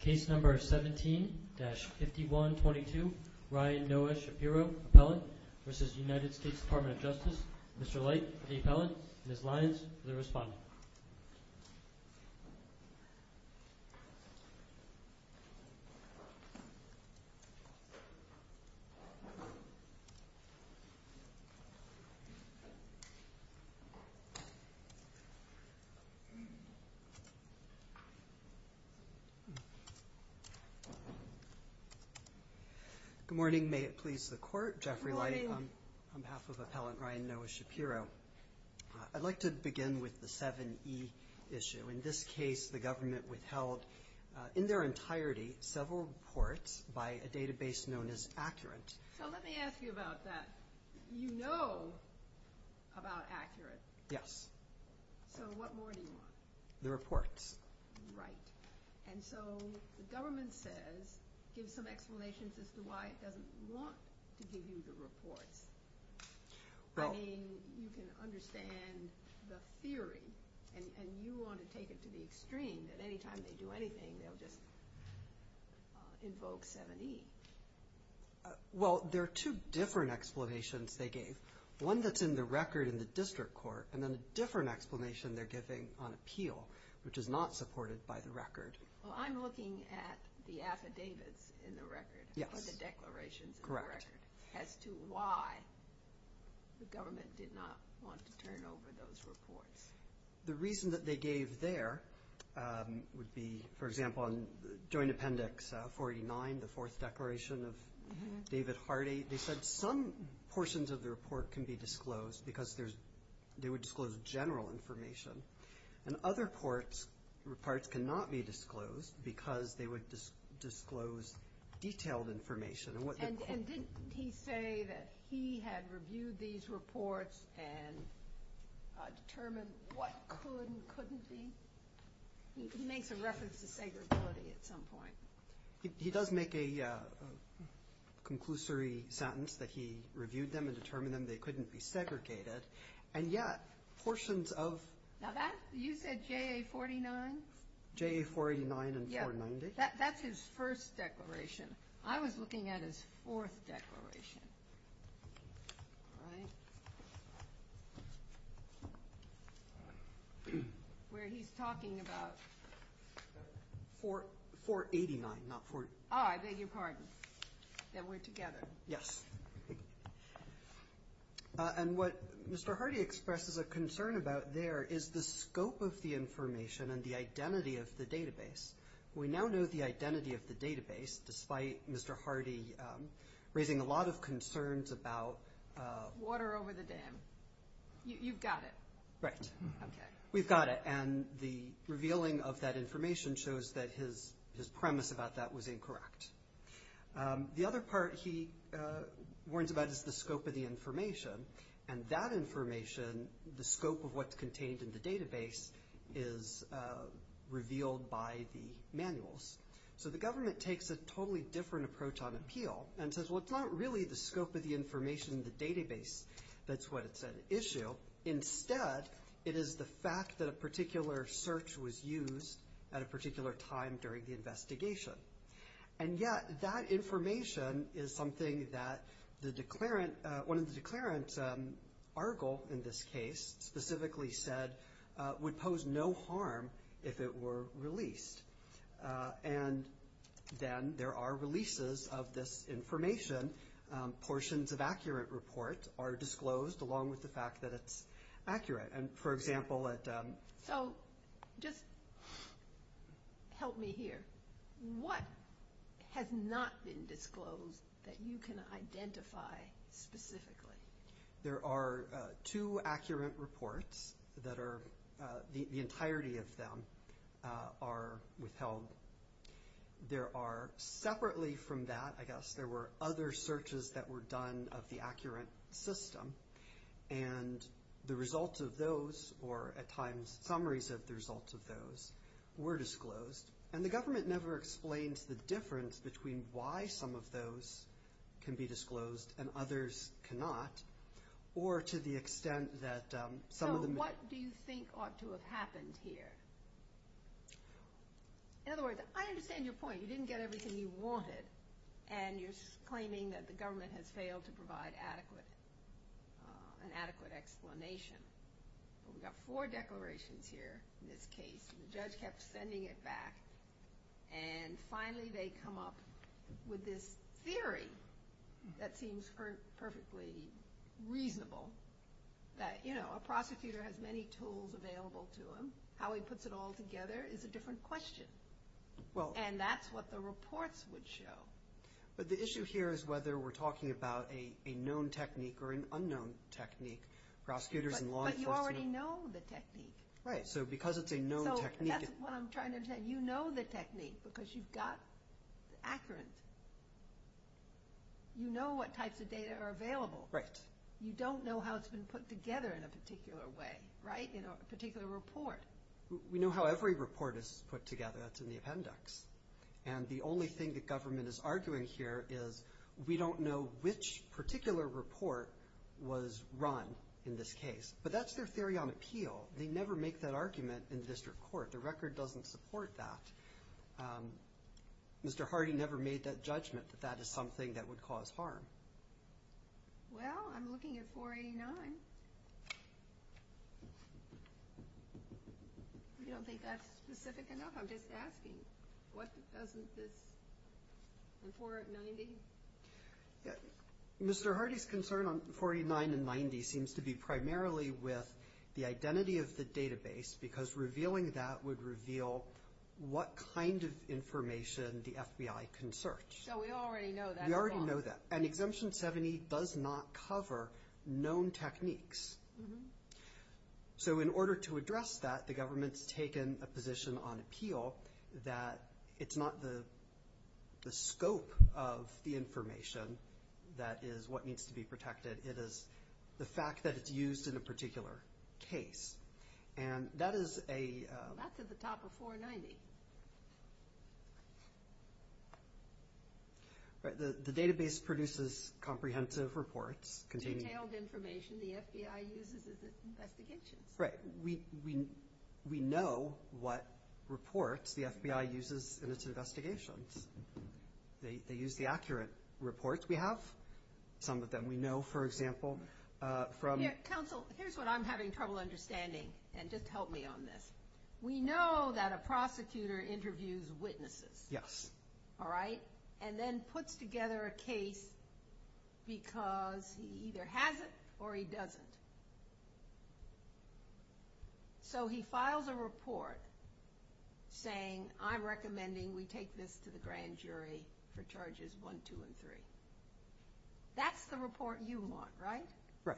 Case No. 17-5122 Ryan Noah Shapiro, Appellant v. United States Department of Justice Mr. Light, the Appellant, Ms. Lyons, the Respondent Good morning. May it please the Court, Jeffrey Light on behalf of Appellant Ryan Noah Shapiro. I'd like to begin with the 7E issue. In this case, the government withheld, in their entirety, several reports by a database known as Accurate. So let me ask you about that. You know about Accurate. Yes. So what more do you want? The reports. Right. And so the government says, gives some explanations as to why it doesn't want to give you the reports. I mean, you can understand the theory, and you want to take it to the extreme, that any time they do anything, they'll just invoke 7E. Well, there are two different explanations they gave. One that's in the record in the district court, and then a different explanation they're giving on appeal, which is not supported by the record. Well, I'm looking at the affidavits in the record. Yes. Or the declarations in the record. Correct. As to why the government did not want to turn over those reports. The reason that they gave there would be, for example, on Joint Appendix 49, the Fourth Declaration of David Hardy, they said some portions of the report can be disclosed because they would disclose general information. And other parts cannot be disclosed because they would disclose detailed information. And didn't he say that he had reviewed these reports and determined what could and couldn't be? He makes a reference to segregability at some point. He does make a conclusory sentence that he reviewed them and determined they couldn't be segregated. And yet, portions of- Now that, you said JA-49? JA-489 and 490. That's his first declaration. I was looking at his fourth declaration. Where he's talking about- 489, not 4- Oh, I beg your pardon. That we're together. Yes. And what Mr. Hardy expresses a concern about there is the scope of the information and the identity of the database. We now know the identity of the database, despite Mr. Hardy raising a lot of concerns about- Water over the dam. You've got it. Right. Okay. We've got it. And the revealing of that information shows that his premise about that was incorrect. The other part he warns about is the scope of the information. And that information, the scope of what's contained in the database, is revealed by the manuals. So the government takes a totally different approach on appeal and says, Well, it's not really the scope of the information in the database that's what it's an issue. Instead, it is the fact that a particular search was used at a particular time during the investigation. And yet, that information is something that one of the declarant's article, in this case, specifically said would pose no harm if it were released. And then there are releases of this information. Portions of accurate reports are disclosed along with the fact that it's accurate. And, for example- So just help me here. What has not been disclosed that you can identify specifically? There are two accurate reports that are- the entirety of them are withheld. There are- separately from that, I guess, there were other searches that were done of the accurate system. And the results of those, or at times summaries of the results of those, were disclosed. And the government never explains the difference between why some of those can be disclosed and others cannot, or to the extent that some of them- So what do you think ought to have happened here? In other words, I understand your point. You didn't get everything you wanted, and you're claiming that the government has failed to provide adequate- an adequate explanation. We've got four declarations here in this case, and the judge kept sending it back. And finally they come up with this theory that seems perfectly reasonable, that, you know, a prosecutor has many tools available to him. How he puts it all together is a different question. And that's what the reports would show. But the issue here is whether we're talking about a known technique or an unknown technique. Prosecutors and law enforcement- But you already know the technique. Right, so because it's a known technique- So that's what I'm trying to understand. You know the technique because you've got the accuracy. You know what types of data are available. Right. You don't know how it's been put together in a particular way, right, in a particular report. We know how every report is put together. That's in the appendix. And the only thing the government is arguing here is we don't know which particular report was run in this case. But that's their theory on appeal. They never make that argument in district court. The record doesn't support that. Mr. Hardy never made that judgment that that is something that would cause harm. Well, I'm looking at 489. I don't think that's specific enough. I'm just asking what doesn't this- Mr. Hardy's concern on 49 and 90 seems to be primarily with the identity of the database because revealing that would reveal what kind of information the FBI can search. So we already know that. We already know that. And Exemption 70 does not cover known techniques. So in order to address that, the government's taken a position on appeal that it's not the scope of the information that is what needs to be protected. It is the fact that it's used in a particular case. And that is a- That's at the top of 490. Right. The database produces comprehensive reports containing- Detailed information the FBI uses in its investigations. Right. We know what reports the FBI uses in its investigations. They use the accurate reports we have, some of them. We know, for example, from- Counsel, here's what I'm having trouble understanding, and just help me on this. We know that a prosecutor interviews witnesses. Yes. All right? And then puts together a case because he either has it or he doesn't. So he files a report saying, I'm recommending we take this to the grand jury for charges 1, 2, and 3. That's the report you want, right? Right.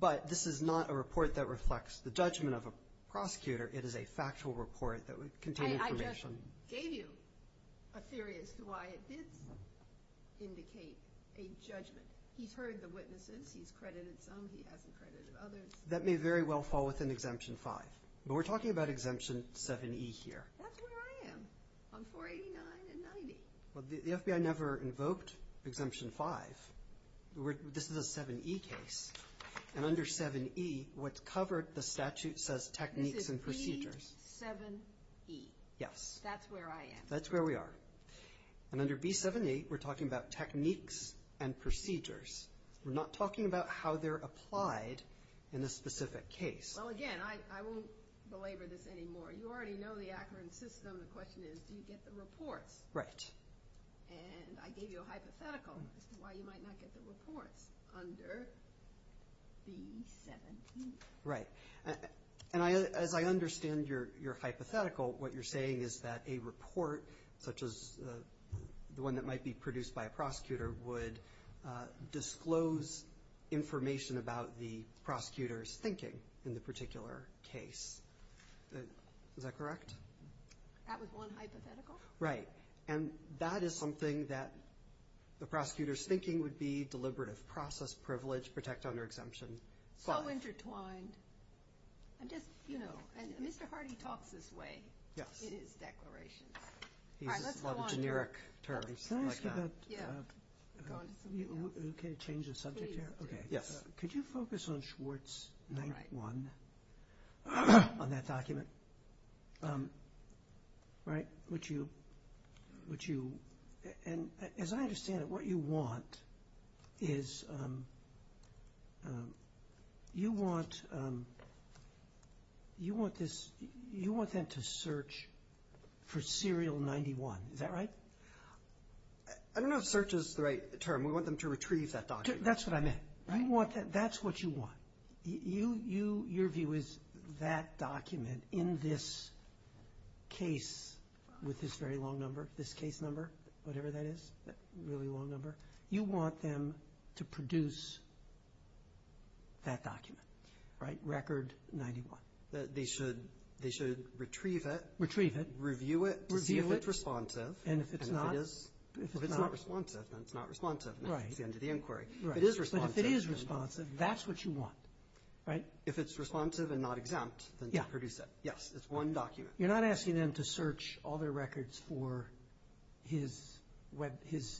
But this is not a report that reflects the judgment of a prosecutor. It is a factual report that would contain information. I just gave you a theory as to why it did indicate a judgment. He's heard the witnesses. He's credited some. He hasn't credited others. That may very well fall within Exemption 5. But we're talking about Exemption 7e here. That's where I am, on 489 and 90. Well, the FBI never invoked Exemption 5. This is a 7e case. And under 7e, what's covered, the statute says techniques and procedures. This is B7e. Yes. That's where I am. That's where we are. And under B7e, we're talking about techniques and procedures. We're not talking about how they're applied in a specific case. Well, again, I won't belabor this anymore. You already know the Akron system. The question is, do you get the reports? Right. And I gave you a hypothetical as to why you might not get the reports under B7e. Right. And as I understand your hypothetical, what you're saying is that a report, such as the one that might be produced by a prosecutor, would disclose information about the prosecutor's thinking in the particular case. Is that correct? That was one hypothetical. Right. And that is something that the prosecutor's thinking would be, deliberative process, privilege, protect under Exemption 5. So intertwined. And just, you know, Mr. Hardy talks this way in his declarations. All right, let's go on. He uses a lot of generic terms like that. Yeah. Go on to something else. Can I change the subject here? Please. Okay. Yes. Could you focus on Schwartz 91, on that document? Right. Which you, and as I understand it, what you want is, you want this, you want them to search for serial 91. Is that right? I don't know if search is the right term. We want them to retrieve that document. That's what I meant. Right. That's what you want. Your view is that document in this case, with this very long number, this case number, whatever that is, really long number, you want them to produce that document, right? Record 91. They should retrieve it. Retrieve it. Review it to see if it's responsive. And if it's not. If it's not responsive, then it's not responsive. Right. That's the end of the inquiry. If it is responsive. If it is responsive, that's what you want, right? If it's responsive and not exempt, then produce it. Yes. It's one document. You're not asking them to search all their records for his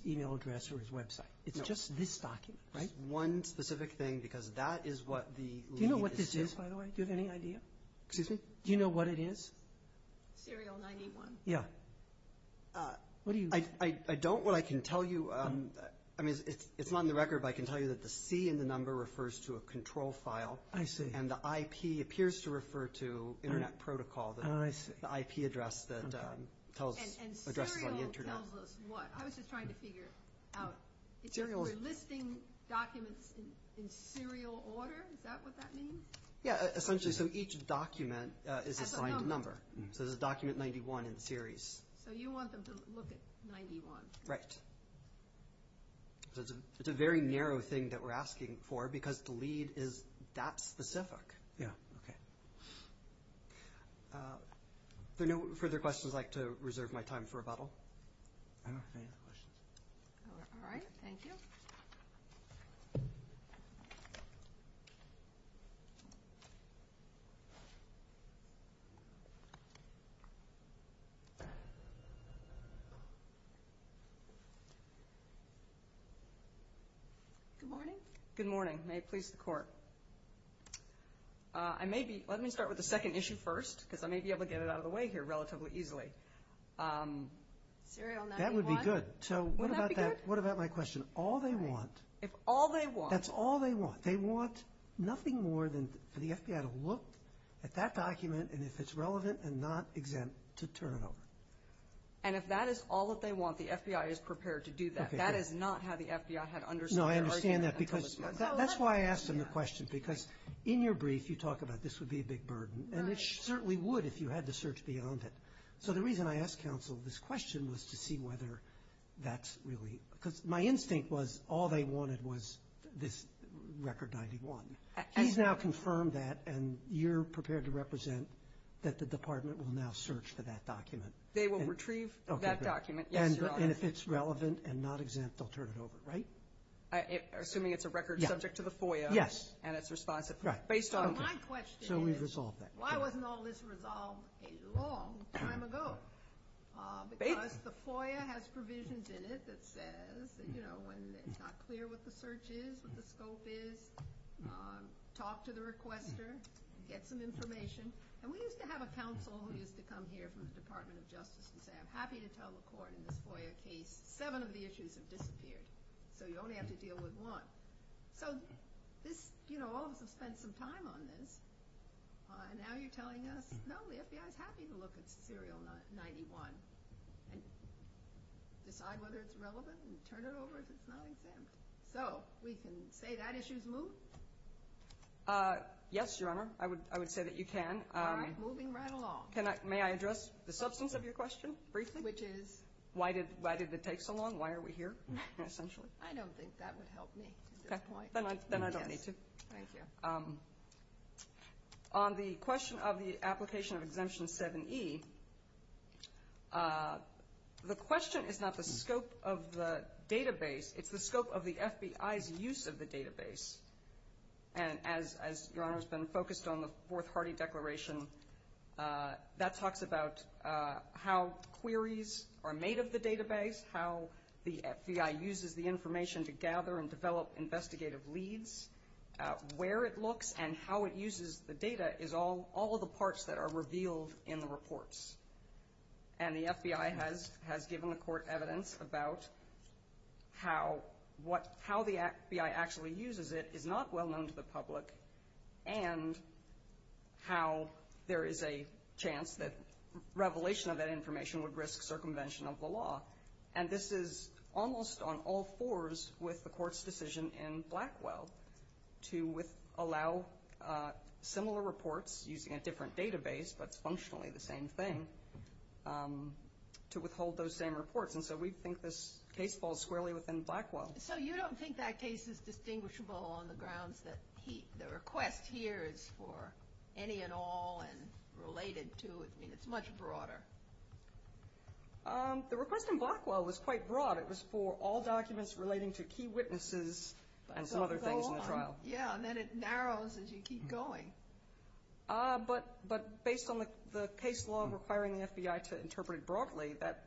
e-mail address or his website. It's just this document, right? It's one specific thing because that is what the lead is to. Do you know what this is, by the way? Do you have any idea? Excuse me? Do you know what it is? Serial 91. Yeah. What do you? I don't. What I can tell you, I mean, it's not in the record, but I can tell you that the C in the number refers to a control file. I see. And the IP appears to refer to internet protocol. Oh, I see. The IP address that tells us addresses on the internet. And serial tells us what? I was just trying to figure out. If you're listing documents in serial order, is that what that means? Yeah, essentially. So each document is assigned a number. As a number. So there's a document 91 in the series. So you want them to look at 91. Right. So it's a very narrow thing that we're asking for because the lead is that specific. Yeah. Okay. If there are no further questions, I'd like to reserve my time for rebuttal. I don't have any other questions. All right. Thank you. Good morning. Good morning. May it please the Court. Let me start with the second issue first because I may be able to get it out of the way here relatively easily. Serial 91. That would be good. Would that be good? So what about my question? All they want. If all they want. That's all they want. They want nothing more than for the FBI to look at that document and if it's relevant and not exempt, to turn it over. And if that is all that they want, the FBI is prepared to do that. That is not how the FBI had understood the argument. No, I understand that because that's why I asked them the question because in your brief you talk about this would be a big burden and it certainly would if you had to search beyond it. So the reason I asked counsel this question was to see whether that's really – because my instinct was all they wanted was this record 91. He's now confirmed that and you're prepared to represent that the department will now search for that document. They will retrieve that document, yes, Your Honor. And if it's relevant and not exempt, they'll turn it over, right? Assuming it's a record subject to the FOIA. Yes. And it's responsive based on it. My question is why wasn't all this resolved a long time ago? Because the FOIA has provisions in it that says when it's not clear what the search is, what the scope is, talk to the requester, get some information. And we used to have a counsel who used to come here from the Department of Justice and say I'm happy to tell the court in this FOIA case seven of the issues have disappeared. So you only have to deal with one. So all of us have spent some time on this and now you're telling us, no, the FBI is happy to look at serial 91 and decide whether it's relevant and turn it over if it's not exempt. So we can say that issue's moved? Yes, Your Honor. I would say that you can. All right. Moving right along. May I address the substance of your question briefly? Which is? Why did it take so long? Why are we here essentially? I don't think that would help me at this point. Okay. Then I don't need to. Thank you. On the question of the application of Exemption 7E, the question is not the scope of the database. It's the scope of the FBI's use of the database. And as Your Honor has been focused on the Fourth Hardy Declaration, that talks about how queries are made of the database, how the FBI uses the information to gather and develop investigative leads, where it looks and how it uses the data is all of the parts that are revealed in the reports. And the FBI has given the court evidence about how the FBI actually uses it, is not well known to the public, and how there is a chance that revelation of that information would risk circumvention of the law. And this is almost on all fours with the court's decision in Blackwell to allow similar reports using a different database, but it's functionally the same thing, to withhold those same reports. And so we think this case falls squarely within Blackwell. So you don't think that case is distinguishable on the grounds that the request here is for any and all and related to it. I mean, it's much broader. The request in Blackwell was quite broad. It was for all documents relating to key witnesses and some other things in the trial. Yeah, and then it narrows as you keep going. But based on the case law requiring the FBI to interpret it broadly, that...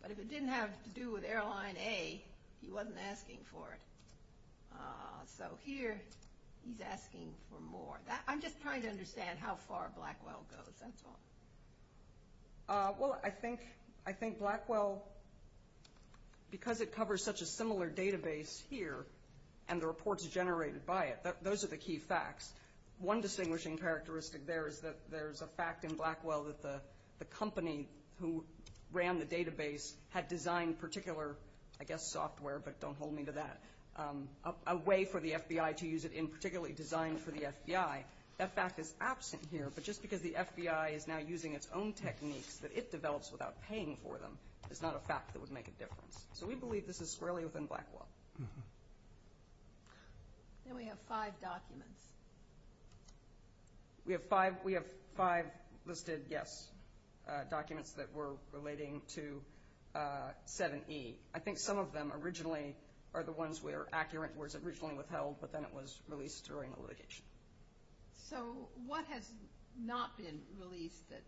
But if it didn't have to do with Airline A, he wasn't asking for it. So here he's asking for more. I'm just trying to understand how far Blackwell goes, that's all. Well, I think Blackwell, because it covers such a similar database here and the reports generated by it, those are the key facts. One distinguishing characteristic there is that there's a fact in Blackwell that the company who ran the database had designed particular, I guess, software, but don't hold me to that, a way for the FBI to use it in particularly designed for the FBI. That fact is absent here, but just because the FBI is now using its own techniques that it develops without paying for them is not a fact that would make a difference. So we believe this is squarely within Blackwell. Then we have five documents. We have five listed, yes, documents that were relating to 7E. I think some of them originally are the ones where accurate words originally withheld, but then it was released during a litigation. So what has not been released that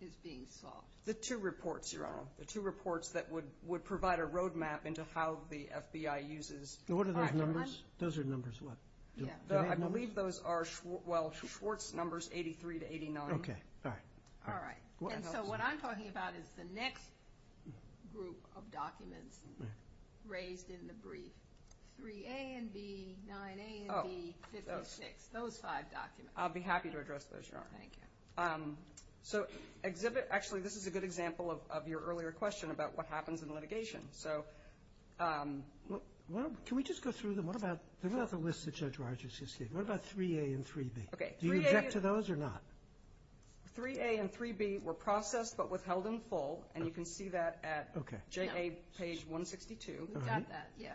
is being solved? The two reports, Your Honor, the two reports that would provide a roadmap into how the FBI uses— What are those numbers? Those are numbers what? I believe those are, well, Schwartz numbers, 83 to 89. Okay, all right. So what I'm talking about is the next group of documents raised in the brief, 3A and B, 9A and B, 56. Those five documents. I'll be happy to address those, Your Honor. Thank you. So exhibit—actually, this is a good example of your earlier question about what happens in litigation. Can we just go through them? What about—they're not the list that Judge Rogers just gave. What about 3A and 3B? Do you object to those or not? 3A and 3B were processed but withheld in full, and you can see that at JA page 162. We've got that, yeah.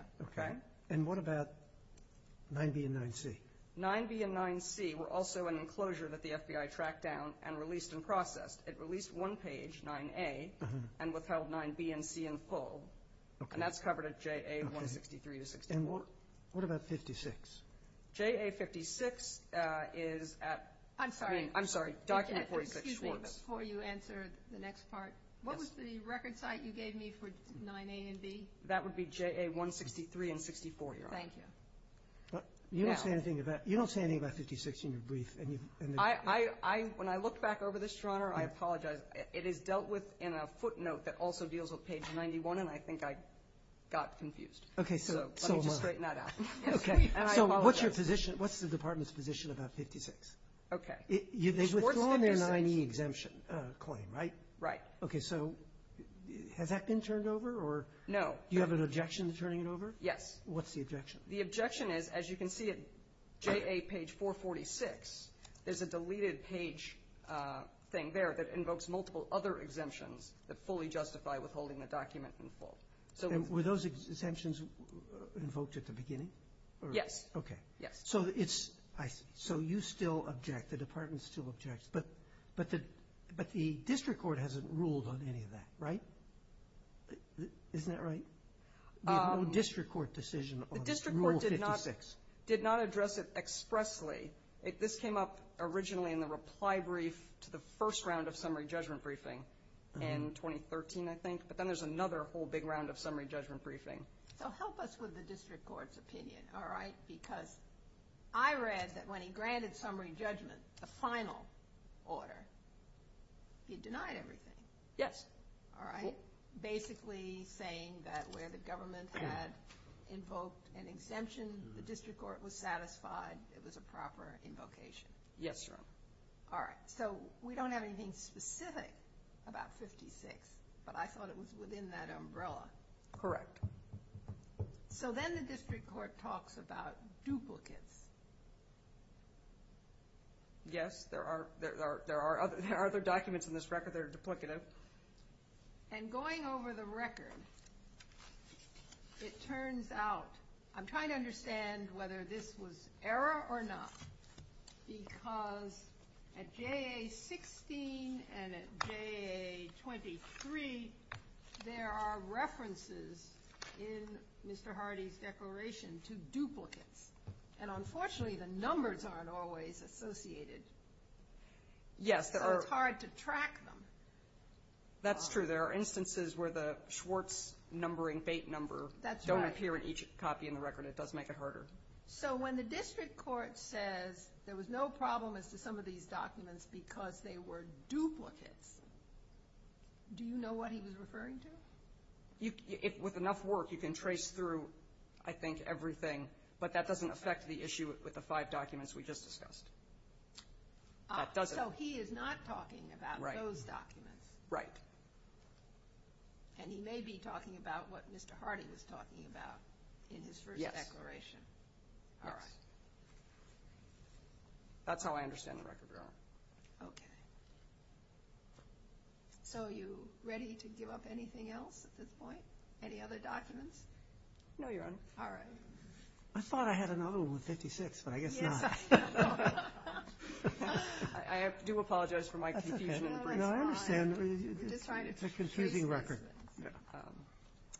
And what about 9B and 9C? 9B and 9C were also an enclosure that the FBI tracked down and released and processed. It released one page, 9A, and withheld 9B and C in full, and that's covered at JA 163 to 64. And what about 56? JA 56 is at— I'm sorry. I'm sorry. Document 46, Schwartz. Excuse me before you answer the next part. What was the record site you gave me for 9A and B? That would be JA 163 and 64, Your Honor. Thank you. You don't say anything about 56 in your brief. When I look back over this, Your Honor, I apologize. It is dealt with in a footnote that also deals with page 91, and I think I got confused. Okay. So let me just straighten that out. Okay. And I apologize. What's your position? What's the Department's position about 56? Okay. Schwartz 56— They've withdrawn their 9E exemption claim, right? Right. Okay, so has that been turned over or— No. Do you have an objection to turning it over? Yes. What's the objection? The objection is, as you can see at JA page 446, there's a deleted page thing there that invokes multiple other exemptions that fully justify withholding the document in full. And were those exemptions invoked at the beginning? Yes. Okay. Yes. So you still object. The Department still objects. But the district court hasn't ruled on any of that, right? Isn't that right? The whole district court decision on Rule 56. The district court did not address it expressly. This came up originally in the reply brief to the first round of summary judgment briefing in 2013, I think. But then there's another whole big round of summary judgment briefing. So help us with the district court's opinion, all right? Because I read that when he granted summary judgment, the final order, he denied everything. Yes. All right? Basically saying that where the government had invoked an exemption, the district court was satisfied it was a proper invocation. Yes, Your Honor. All right. So we don't have anything specific about 56, but I thought it was within that umbrella. Correct. So then the district court talks about duplicates. Yes. There are other documents in this record that are duplicative. And going over the record, it turns out, I'm trying to understand whether this was error or not, because at JA 16 and at JA 23, there are references in Mr. Hardy's declaration to duplicates. And unfortunately, the numbers aren't always associated. Yes, there are. So it's hard to track them. That's true. There are instances where the Schwartz numbering, fate number, don't appear in each copy in the record. It does make it harder. So when the district court says there was no problem as to some of these documents because they were duplicates, do you know what he was referring to? With enough work, you can trace through, I think, everything. But that doesn't affect the issue with the five documents we just discussed. That doesn't. So he is not talking about those documents. Right. And he may be talking about what Mr. Hardy was talking about in his first declaration. Right. All right. That's how I understand the record, Your Honor. Okay. So are you ready to give up anything else at this point? Any other documents? No, Your Honor. All right. I thought I had another one with 56, but I guess not. Yes, I know. I do apologize for my confusion. No, that's fine. I understand. I'm just trying to trace these things. It's a confusing record. Yeah.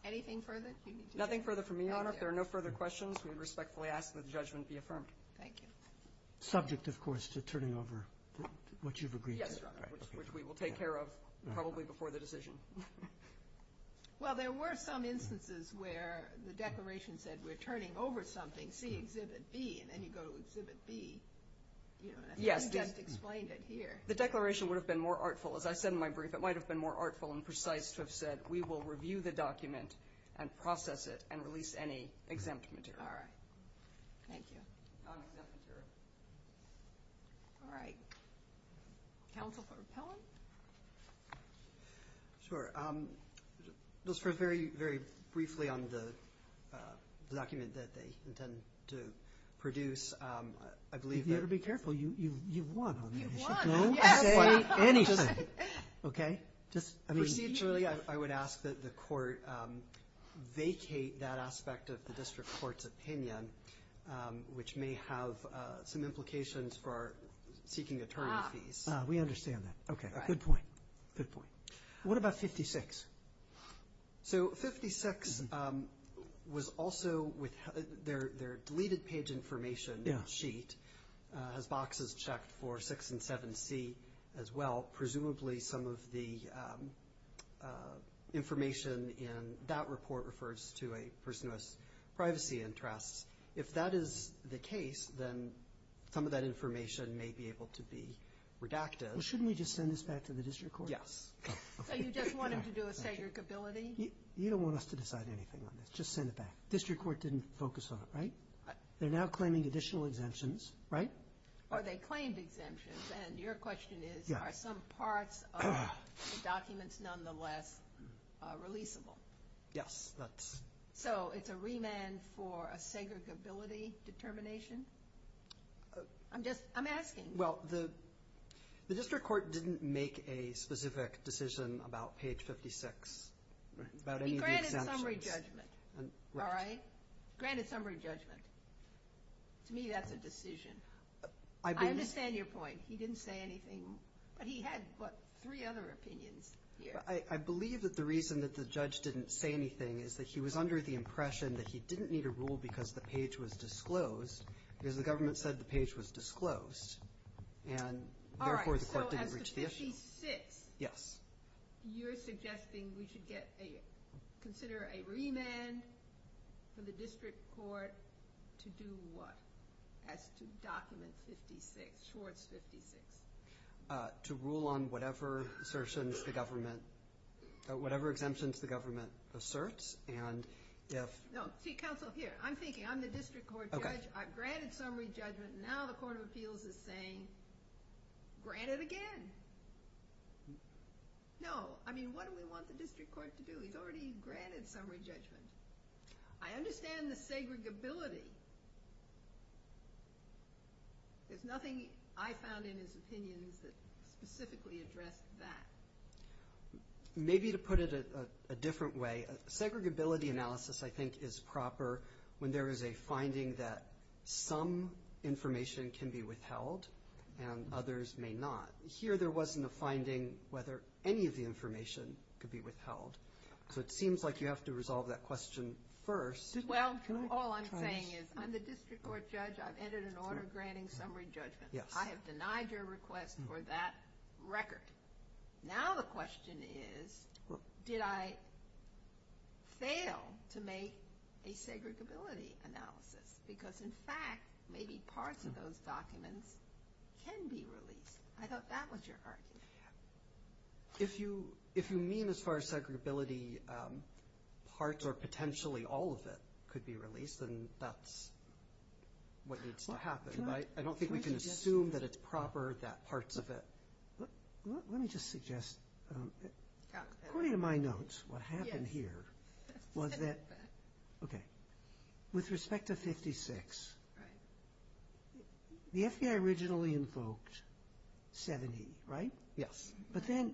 Anything further? Nothing further for me, Your Honor. If there are no further questions, we respectfully ask that the judgment be affirmed. Thank you. Subject, of course, to turning over what you've agreed to. Yes, Your Honor, which we will take care of probably before the decision. Well, there were some instances where the declaration said, we're turning over something, see Exhibit B, and then you go to Exhibit B. You just explained it here. The declaration would have been more artful. As I said in my brief, it might have been more artful and precise to have said, we will review the document and process it and release any exempt material. All right. Thank you. Non-exempt material. All right. Counsel for Pelham? Sure. Just very, very briefly on the document that they intend to produce, I believe that— You've got to be careful. You've won on that issue. You've won. Yes. Don't say anything. Okay? Proceeding, I would ask that the court vacate that aspect of the district court's opinion, which may have some implications for seeking attorney fees. We understand that. Okay. Good point. Good point. What about 56? So 56 was also—their deleted page information sheet has boxes checked for 6 and 7C as well, presumably some of the information in that report refers to a person who has privacy interests. If that is the case, then some of that information may be able to be redacted. Well, shouldn't we just send this back to the district court? Yes. So you just want them to do a segregability? You don't want us to decide anything on this. Just send it back. District court didn't focus on it, right? They're now claiming additional exemptions, right? Or they claimed exemptions, and your question is, are some parts of the documents nonetheless releasable? Yes, that's— So it's a remand for a segregability determination? I'm just—I'm asking. Well, the district court didn't make a specific decision about page 56 about any of the exemptions. He granted summary judgment, all right? Granted summary judgment. To me, that's a decision. I understand your point. He didn't say anything, but he had, what, three other opinions here. I believe that the reason that the judge didn't say anything is that he was under the impression that he didn't need a rule because the page was disclosed because the government said the page was disclosed, and therefore the court didn't reach the issue. All right, so as to 56— Yes. You're suggesting we should get a—consider a remand for the district court to do what as to document 56, Schwartz 56? To rule on whatever assertions the government—whatever exemptions the government asserts, and if— No, see, counsel, here, I'm thinking. I'm the district court judge. I've granted summary judgment. Now the court of appeals is saying, grant it again. No, I mean, what do we want the district court to do? He's already granted summary judgment. I understand the segregability. There's nothing I found in his opinions that specifically addressed that. Maybe to put it a different way, segregability analysis I think is proper when there is a finding that some information can be withheld and others may not. Here there wasn't a finding whether any of the information could be withheld. So it seems like you have to resolve that question first. Well, all I'm saying is I'm the district court judge. I've entered an order granting summary judgment. Yes. I have denied your request for that record. Now the question is, did I fail to make a segregability analysis? Because, in fact, maybe parts of those documents can be released. I thought that was your argument. If you mean as far as segregability parts or potentially all of it could be released, then that's what needs to happen. I don't think we can assume that it's proper, that parts of it. Let me just suggest, according to my notes, what happened here was that, okay, with respect to 56, the FBI originally invoked 70, right? Yes. But then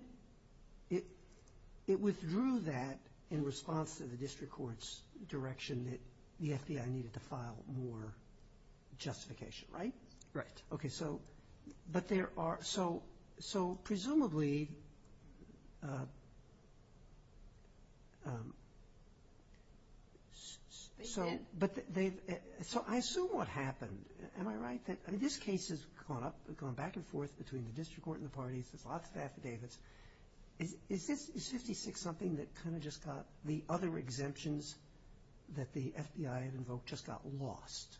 it withdrew that in response to the district court's direction that the FBI needed to file more justification, right? Right. Okay. So presumably, so I assume what happened, am I right? This case has gone up, gone back and forth between the district court and the parties. There's lots of affidavits. Is 56 something that kind of just got the other exemptions that the FBI invoked just got lost?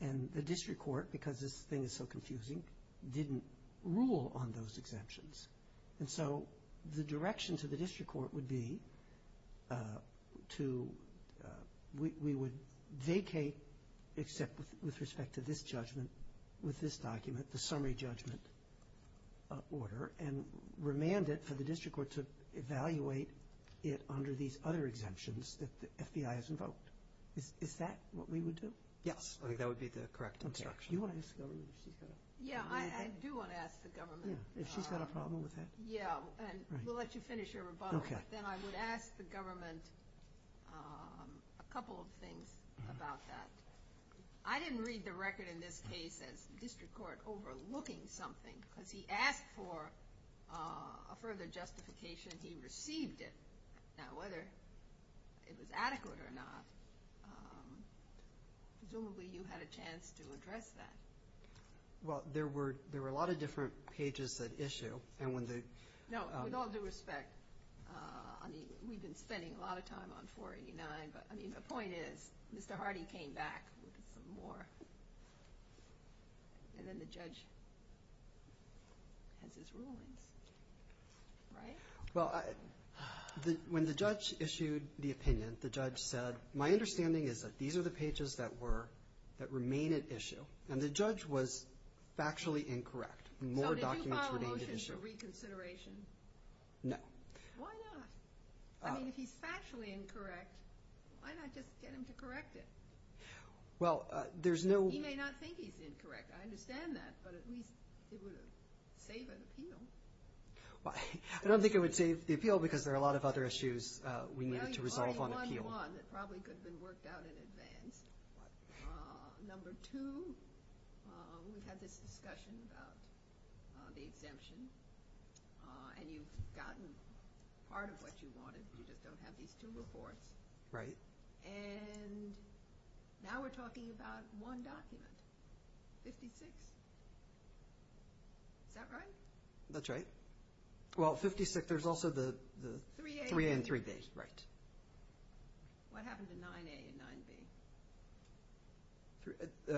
And the district court, because this thing is so confusing, didn't rule on those exemptions. And so the direction to the district court would be to, we would vacate, except with respect to this judgment, with this document, the summary judgment order, and remand it for the district court to evaluate it under these other exemptions that the FBI has invoked. Is that what we would do? Yes. I think that would be the correct instruction. Do you want to ask the government if she's got anything? Yeah, I do want to ask the government. Yeah, if she's got a problem with that. Yeah, and we'll let you finish your rebuttal. Okay. Then I would ask the government a couple of things about that. I didn't read the record in this case as district court overlooking something because he asked for a further justification and he received it. Now, whether it was adequate or not, presumably you had a chance to address that. Well, there were a lot of different pages that issue. No, with all due respect, we've been spending a lot of time on 489, but the point is Mr. Hardy came back with some more, and then the judge has his rulings. Right? Well, when the judge issued the opinion, the judge said, my understanding is that these are the pages that remain at issue, and the judge was factually incorrect. So did you file a motion for reconsideration? No. Why not? I mean, if he's factually incorrect, why not just get him to correct it? Well, there's no— He may not think he's incorrect. I understand that, but at least it would save an appeal. Well, I don't think it would save the appeal because there are a lot of other issues we needed to resolve on appeal. Well, you've already won one that probably could have been worked out in advance. Number two, we've had this discussion about the exemption, and you've gotten part of what you wanted. You just don't have these two reports. Right. And now we're talking about one document. 56. Is that right? That's right. Well, 56, there's also the 3A and 3B. Right. What happened to 9A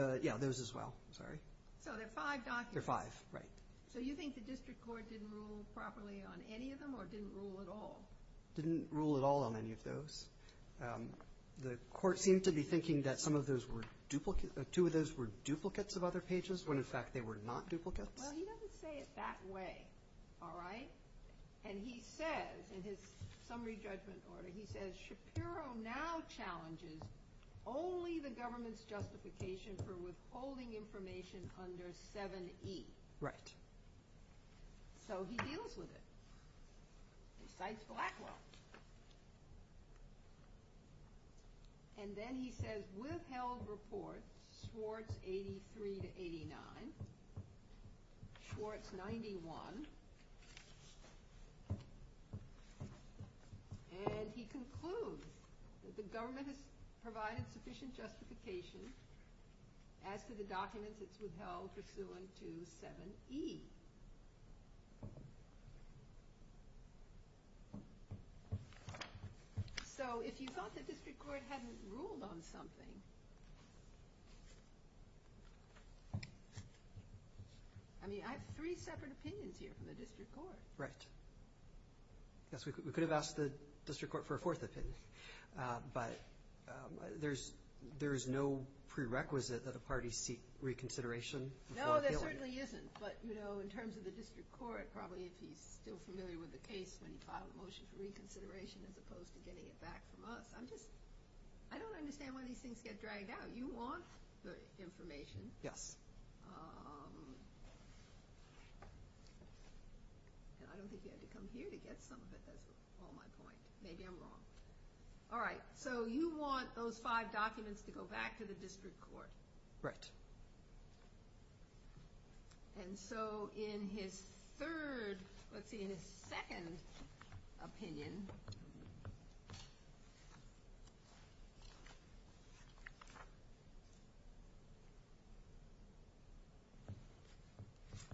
and 9B? Yeah, those as well. Sorry. So there are five documents. There are five. Right. So you think the district court didn't rule properly on any of them or didn't rule at all? Didn't rule at all on any of those. The court seemed to be thinking that some of those were duplicates—two of those were duplicates of other pages when, in fact, they were not duplicates. Well, he doesn't say it that way, all right? And he says in his summary judgment order, he says, Shapiro now challenges only the government's justification for withholding information under 7E. Right. So he deals with it and cites Blackwell. And then he says, withhold report Schwartz 83 to 89, Schwartz 91. And he concludes that the government has provided sufficient justification as to the documents it's withheld pursuant to 7E. So if you thought the district court hadn't ruled on something—I mean, I have three separate opinions here from the district court. Right. Yes, we could have asked the district court for a fourth opinion. But there is no prerequisite that a party seek reconsideration before appealing. No, there certainly isn't. But, you know, in terms of the district court, probably if he's still familiar with the case when he filed a motion for reconsideration as opposed to getting it back from us. I'm just—I don't understand when these things get dragged out. You want the information. Yes. I don't think you had to come here to get some of it. That's all my point. Maybe I'm wrong. All right. So you want those five documents to go back to the district court. Right. And so in his third—let's see, in his second opinion,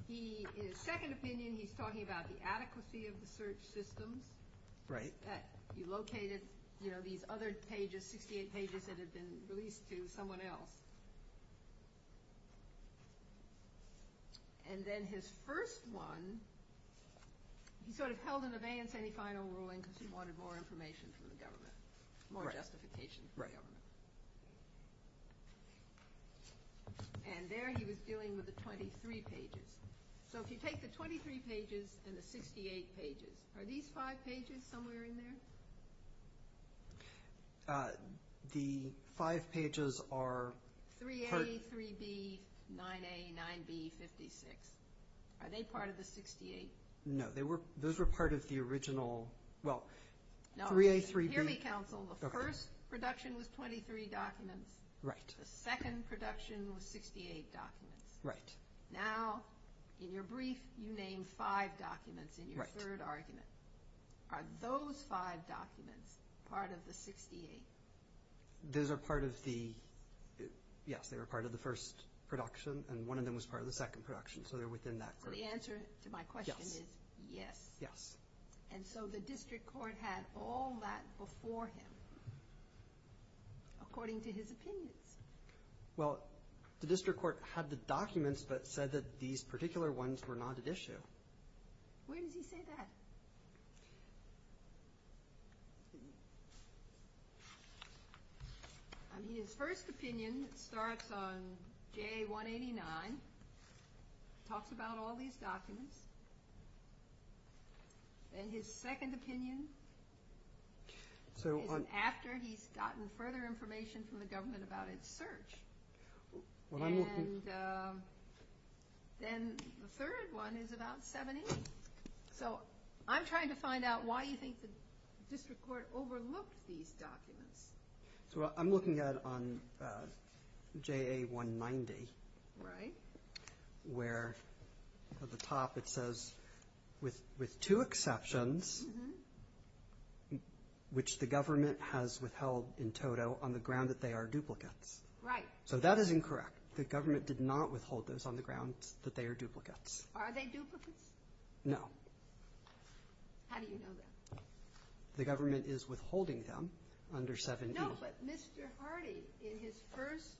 he—in his second opinion, he's talking about the adequacy of the search systems. Right. You located, you know, these other pages, 68 pages that had been released to someone else. And then his first one, he sort of held in abeyance any final ruling because he wanted more information from the government, more justification from the government. Right. And there he was dealing with the 23 pages. So if you take the 23 pages and the 68 pages, are these five pages somewhere in there? The five pages are part— 3A, 3B, 9A, 9B, 56. Are they part of the 68? No. Those were part of the original—well, 3A, 3B— No. If you hear me, counsel, the first production was 23 documents. Right. The second production was 68 documents. Right. Now, in your brief, you name five documents in your third argument. Right. Are those five documents part of the 68? Those are part of the—yes, they were part of the first production, and one of them was part of the second production. So they're within that first— So the answer to my question is yes. Yes. And so the district court had all that before him, according to his opinions. Well, the district court had the documents but said that these particular ones were not at issue. Where does he say that? I mean, his first opinion starts on J189, talks about all these documents. And his second opinion is after he's gotten further information from the government about its search. And then the third one is about 78. So I'm trying to find out why you think the district court overlooked these documents. So I'm looking at on JA190. Right. Where at the top it says, with two exceptions, which the government has withheld in total on the ground that they are duplicates. Right. So that is incorrect. The government did not withhold those on the grounds that they are duplicates. Are they duplicates? No. How do you know that? The government is withholding them under 78. No, but Mr. Hardy, in his first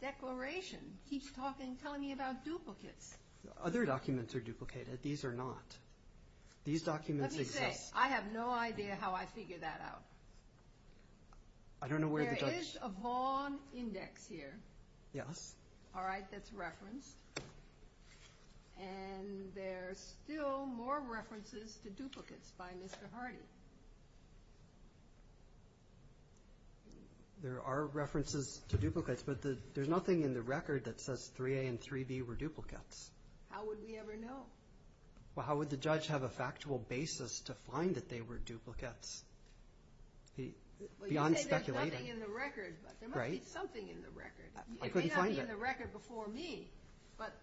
declaration, keeps talking, telling me about duplicates. Other documents are duplicated. These are not. These documents exist. Let me say, I have no idea how I figured that out. I don't know where the judge – There is a Vaughan index here. Yes. All right. That's referenced. And there's still more references to duplicates by Mr. Hardy. There are references to duplicates, but there's nothing in the record that says 3A and 3B were duplicates. How would we ever know? Well, how would the judge have a factual basis to find that they were duplicates? Beyond speculating. Well, you say there's nothing in the record, but there must be something in the record. I couldn't find it. There's nothing in the record before me. But,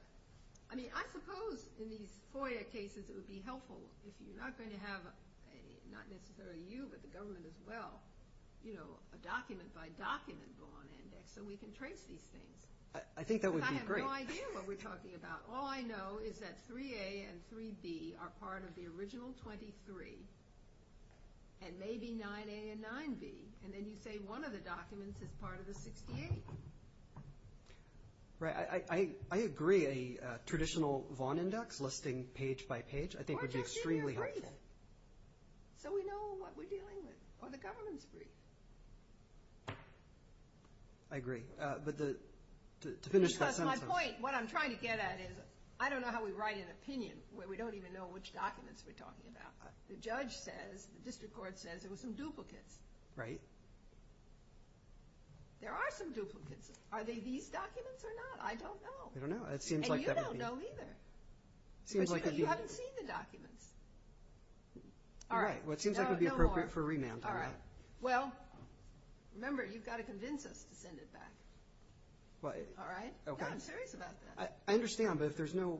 I mean, I suppose in these FOIA cases it would be helpful if you're not going to have, not necessarily you, but the government as well, you know, a document-by-document Vaughan index so we can trace these things. I think that would be great. Because I have no idea what we're talking about. All I know is that 3A and 3B are part of the original 23, and maybe 9A and 9B. And then you say one of the documents is part of the 68. Right. I agree. A traditional Vaughan index listing page by page I think would be extremely helpful. Or just even a brief so we know what we're dealing with, or the government's brief. I agree. But to finish that sentence. Because my point, what I'm trying to get at is I don't know how we write an opinion where we don't even know which documents we're talking about. The judge says, the district court says there were some duplicates. Right. There are some duplicates. Are they these documents or not? I don't know. I don't know. And you don't know either. You haven't seen the documents. You're right. Well, it seems like it would be appropriate for remand. All right. Well, remember, you've got to convince us to send it back. All right? I'm serious about that. I understand, but if there's no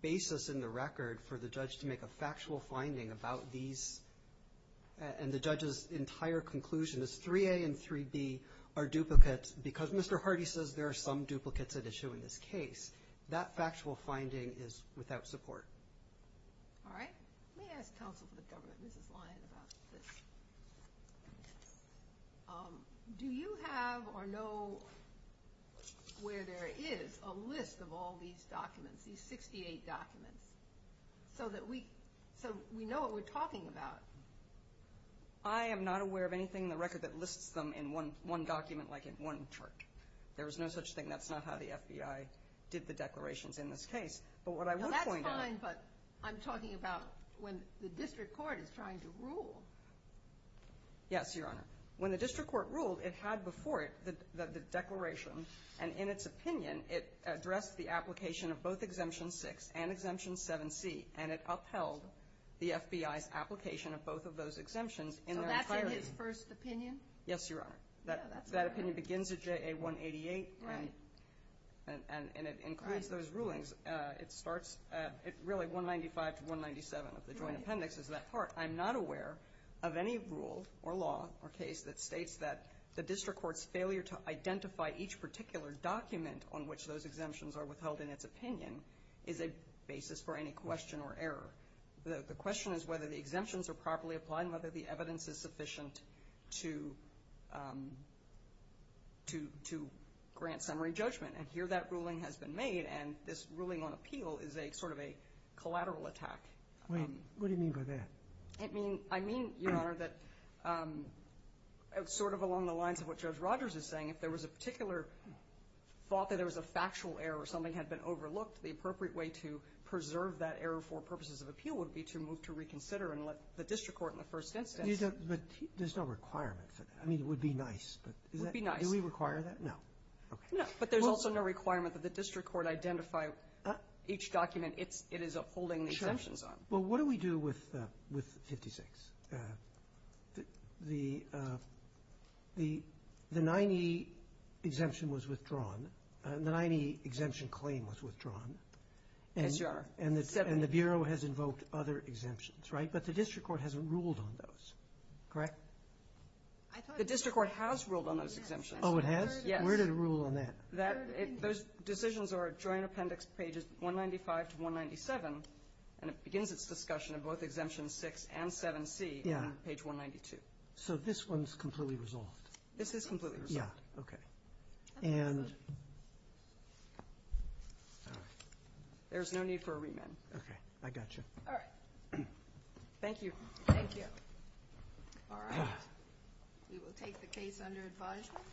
basis in the record for the judge to make a factual finding about these and the judge's entire conclusion is 3A and 3B are duplicates because Mr. Hardy says there are some duplicates at issue in this case, that factual finding is without support. All right. Let me ask counsel for the government, Mrs. Lyon, about this. Do you have or know where there is a list of all these documents, these 68 documents, so we know what we're talking about? I am not aware of anything in the record that lists them in one document like in one chart. There is no such thing. That's not how the FBI did the declarations in this case. That's fine, but I'm talking about when the district court is trying to rule. Yes, Your Honor. When the district court ruled, it had before it the declaration, and in its opinion, it addressed the application of both Exemption 6 and Exemption 7C, and it upheld the FBI's application of both of those exemptions in their entirety. So that's in his first opinion? Yes, Your Honor. That opinion begins at JA 188, and it includes those rulings. It starts at really 195 to 197 of the joint appendix is that part. I'm not aware of any rule or law or case that states that the district court's failure to identify each particular document on which those exemptions are withheld in its opinion is a basis for any question or error. The question is whether the exemptions are properly applied and whether the evidence is sufficient to grant summary judgment, and here that ruling has been made, and this ruling on appeal is sort of a collateral attack. What do you mean by that? I mean, Your Honor, that sort of along the lines of what Judge Rogers is saying, if there was a particular thought that there was a factual error or something had been overlooked, the appropriate way to preserve that error for purposes of appeal would be to move to reconsider and let the district court in the first instance. But there's no requirement for that. I mean, it would be nice. It would be nice. Do we require that? No. No, but there's also no requirement that the district court identify each document it is upholding the exemptions on. Sure. Well, what do we do with 56? The 90 exemption was withdrawn. The 90 exemption claim was withdrawn. Yes, Your Honor. And the Bureau has invoked other exemptions, right? But the district court hasn't ruled on those, correct? The district court has ruled on those exemptions. Oh, it has? Yes. Where did it rule on that? Those decisions are joint appendix pages 195 to 197, and it begins its discussion of both exemption 6 and 7C on page 192. So this one is completely resolved? This is completely resolved. Yes. Okay. And there's no need for a remand. Okay. I got you. All right. Thank you. Thank you. All right. We will take the case under advisement.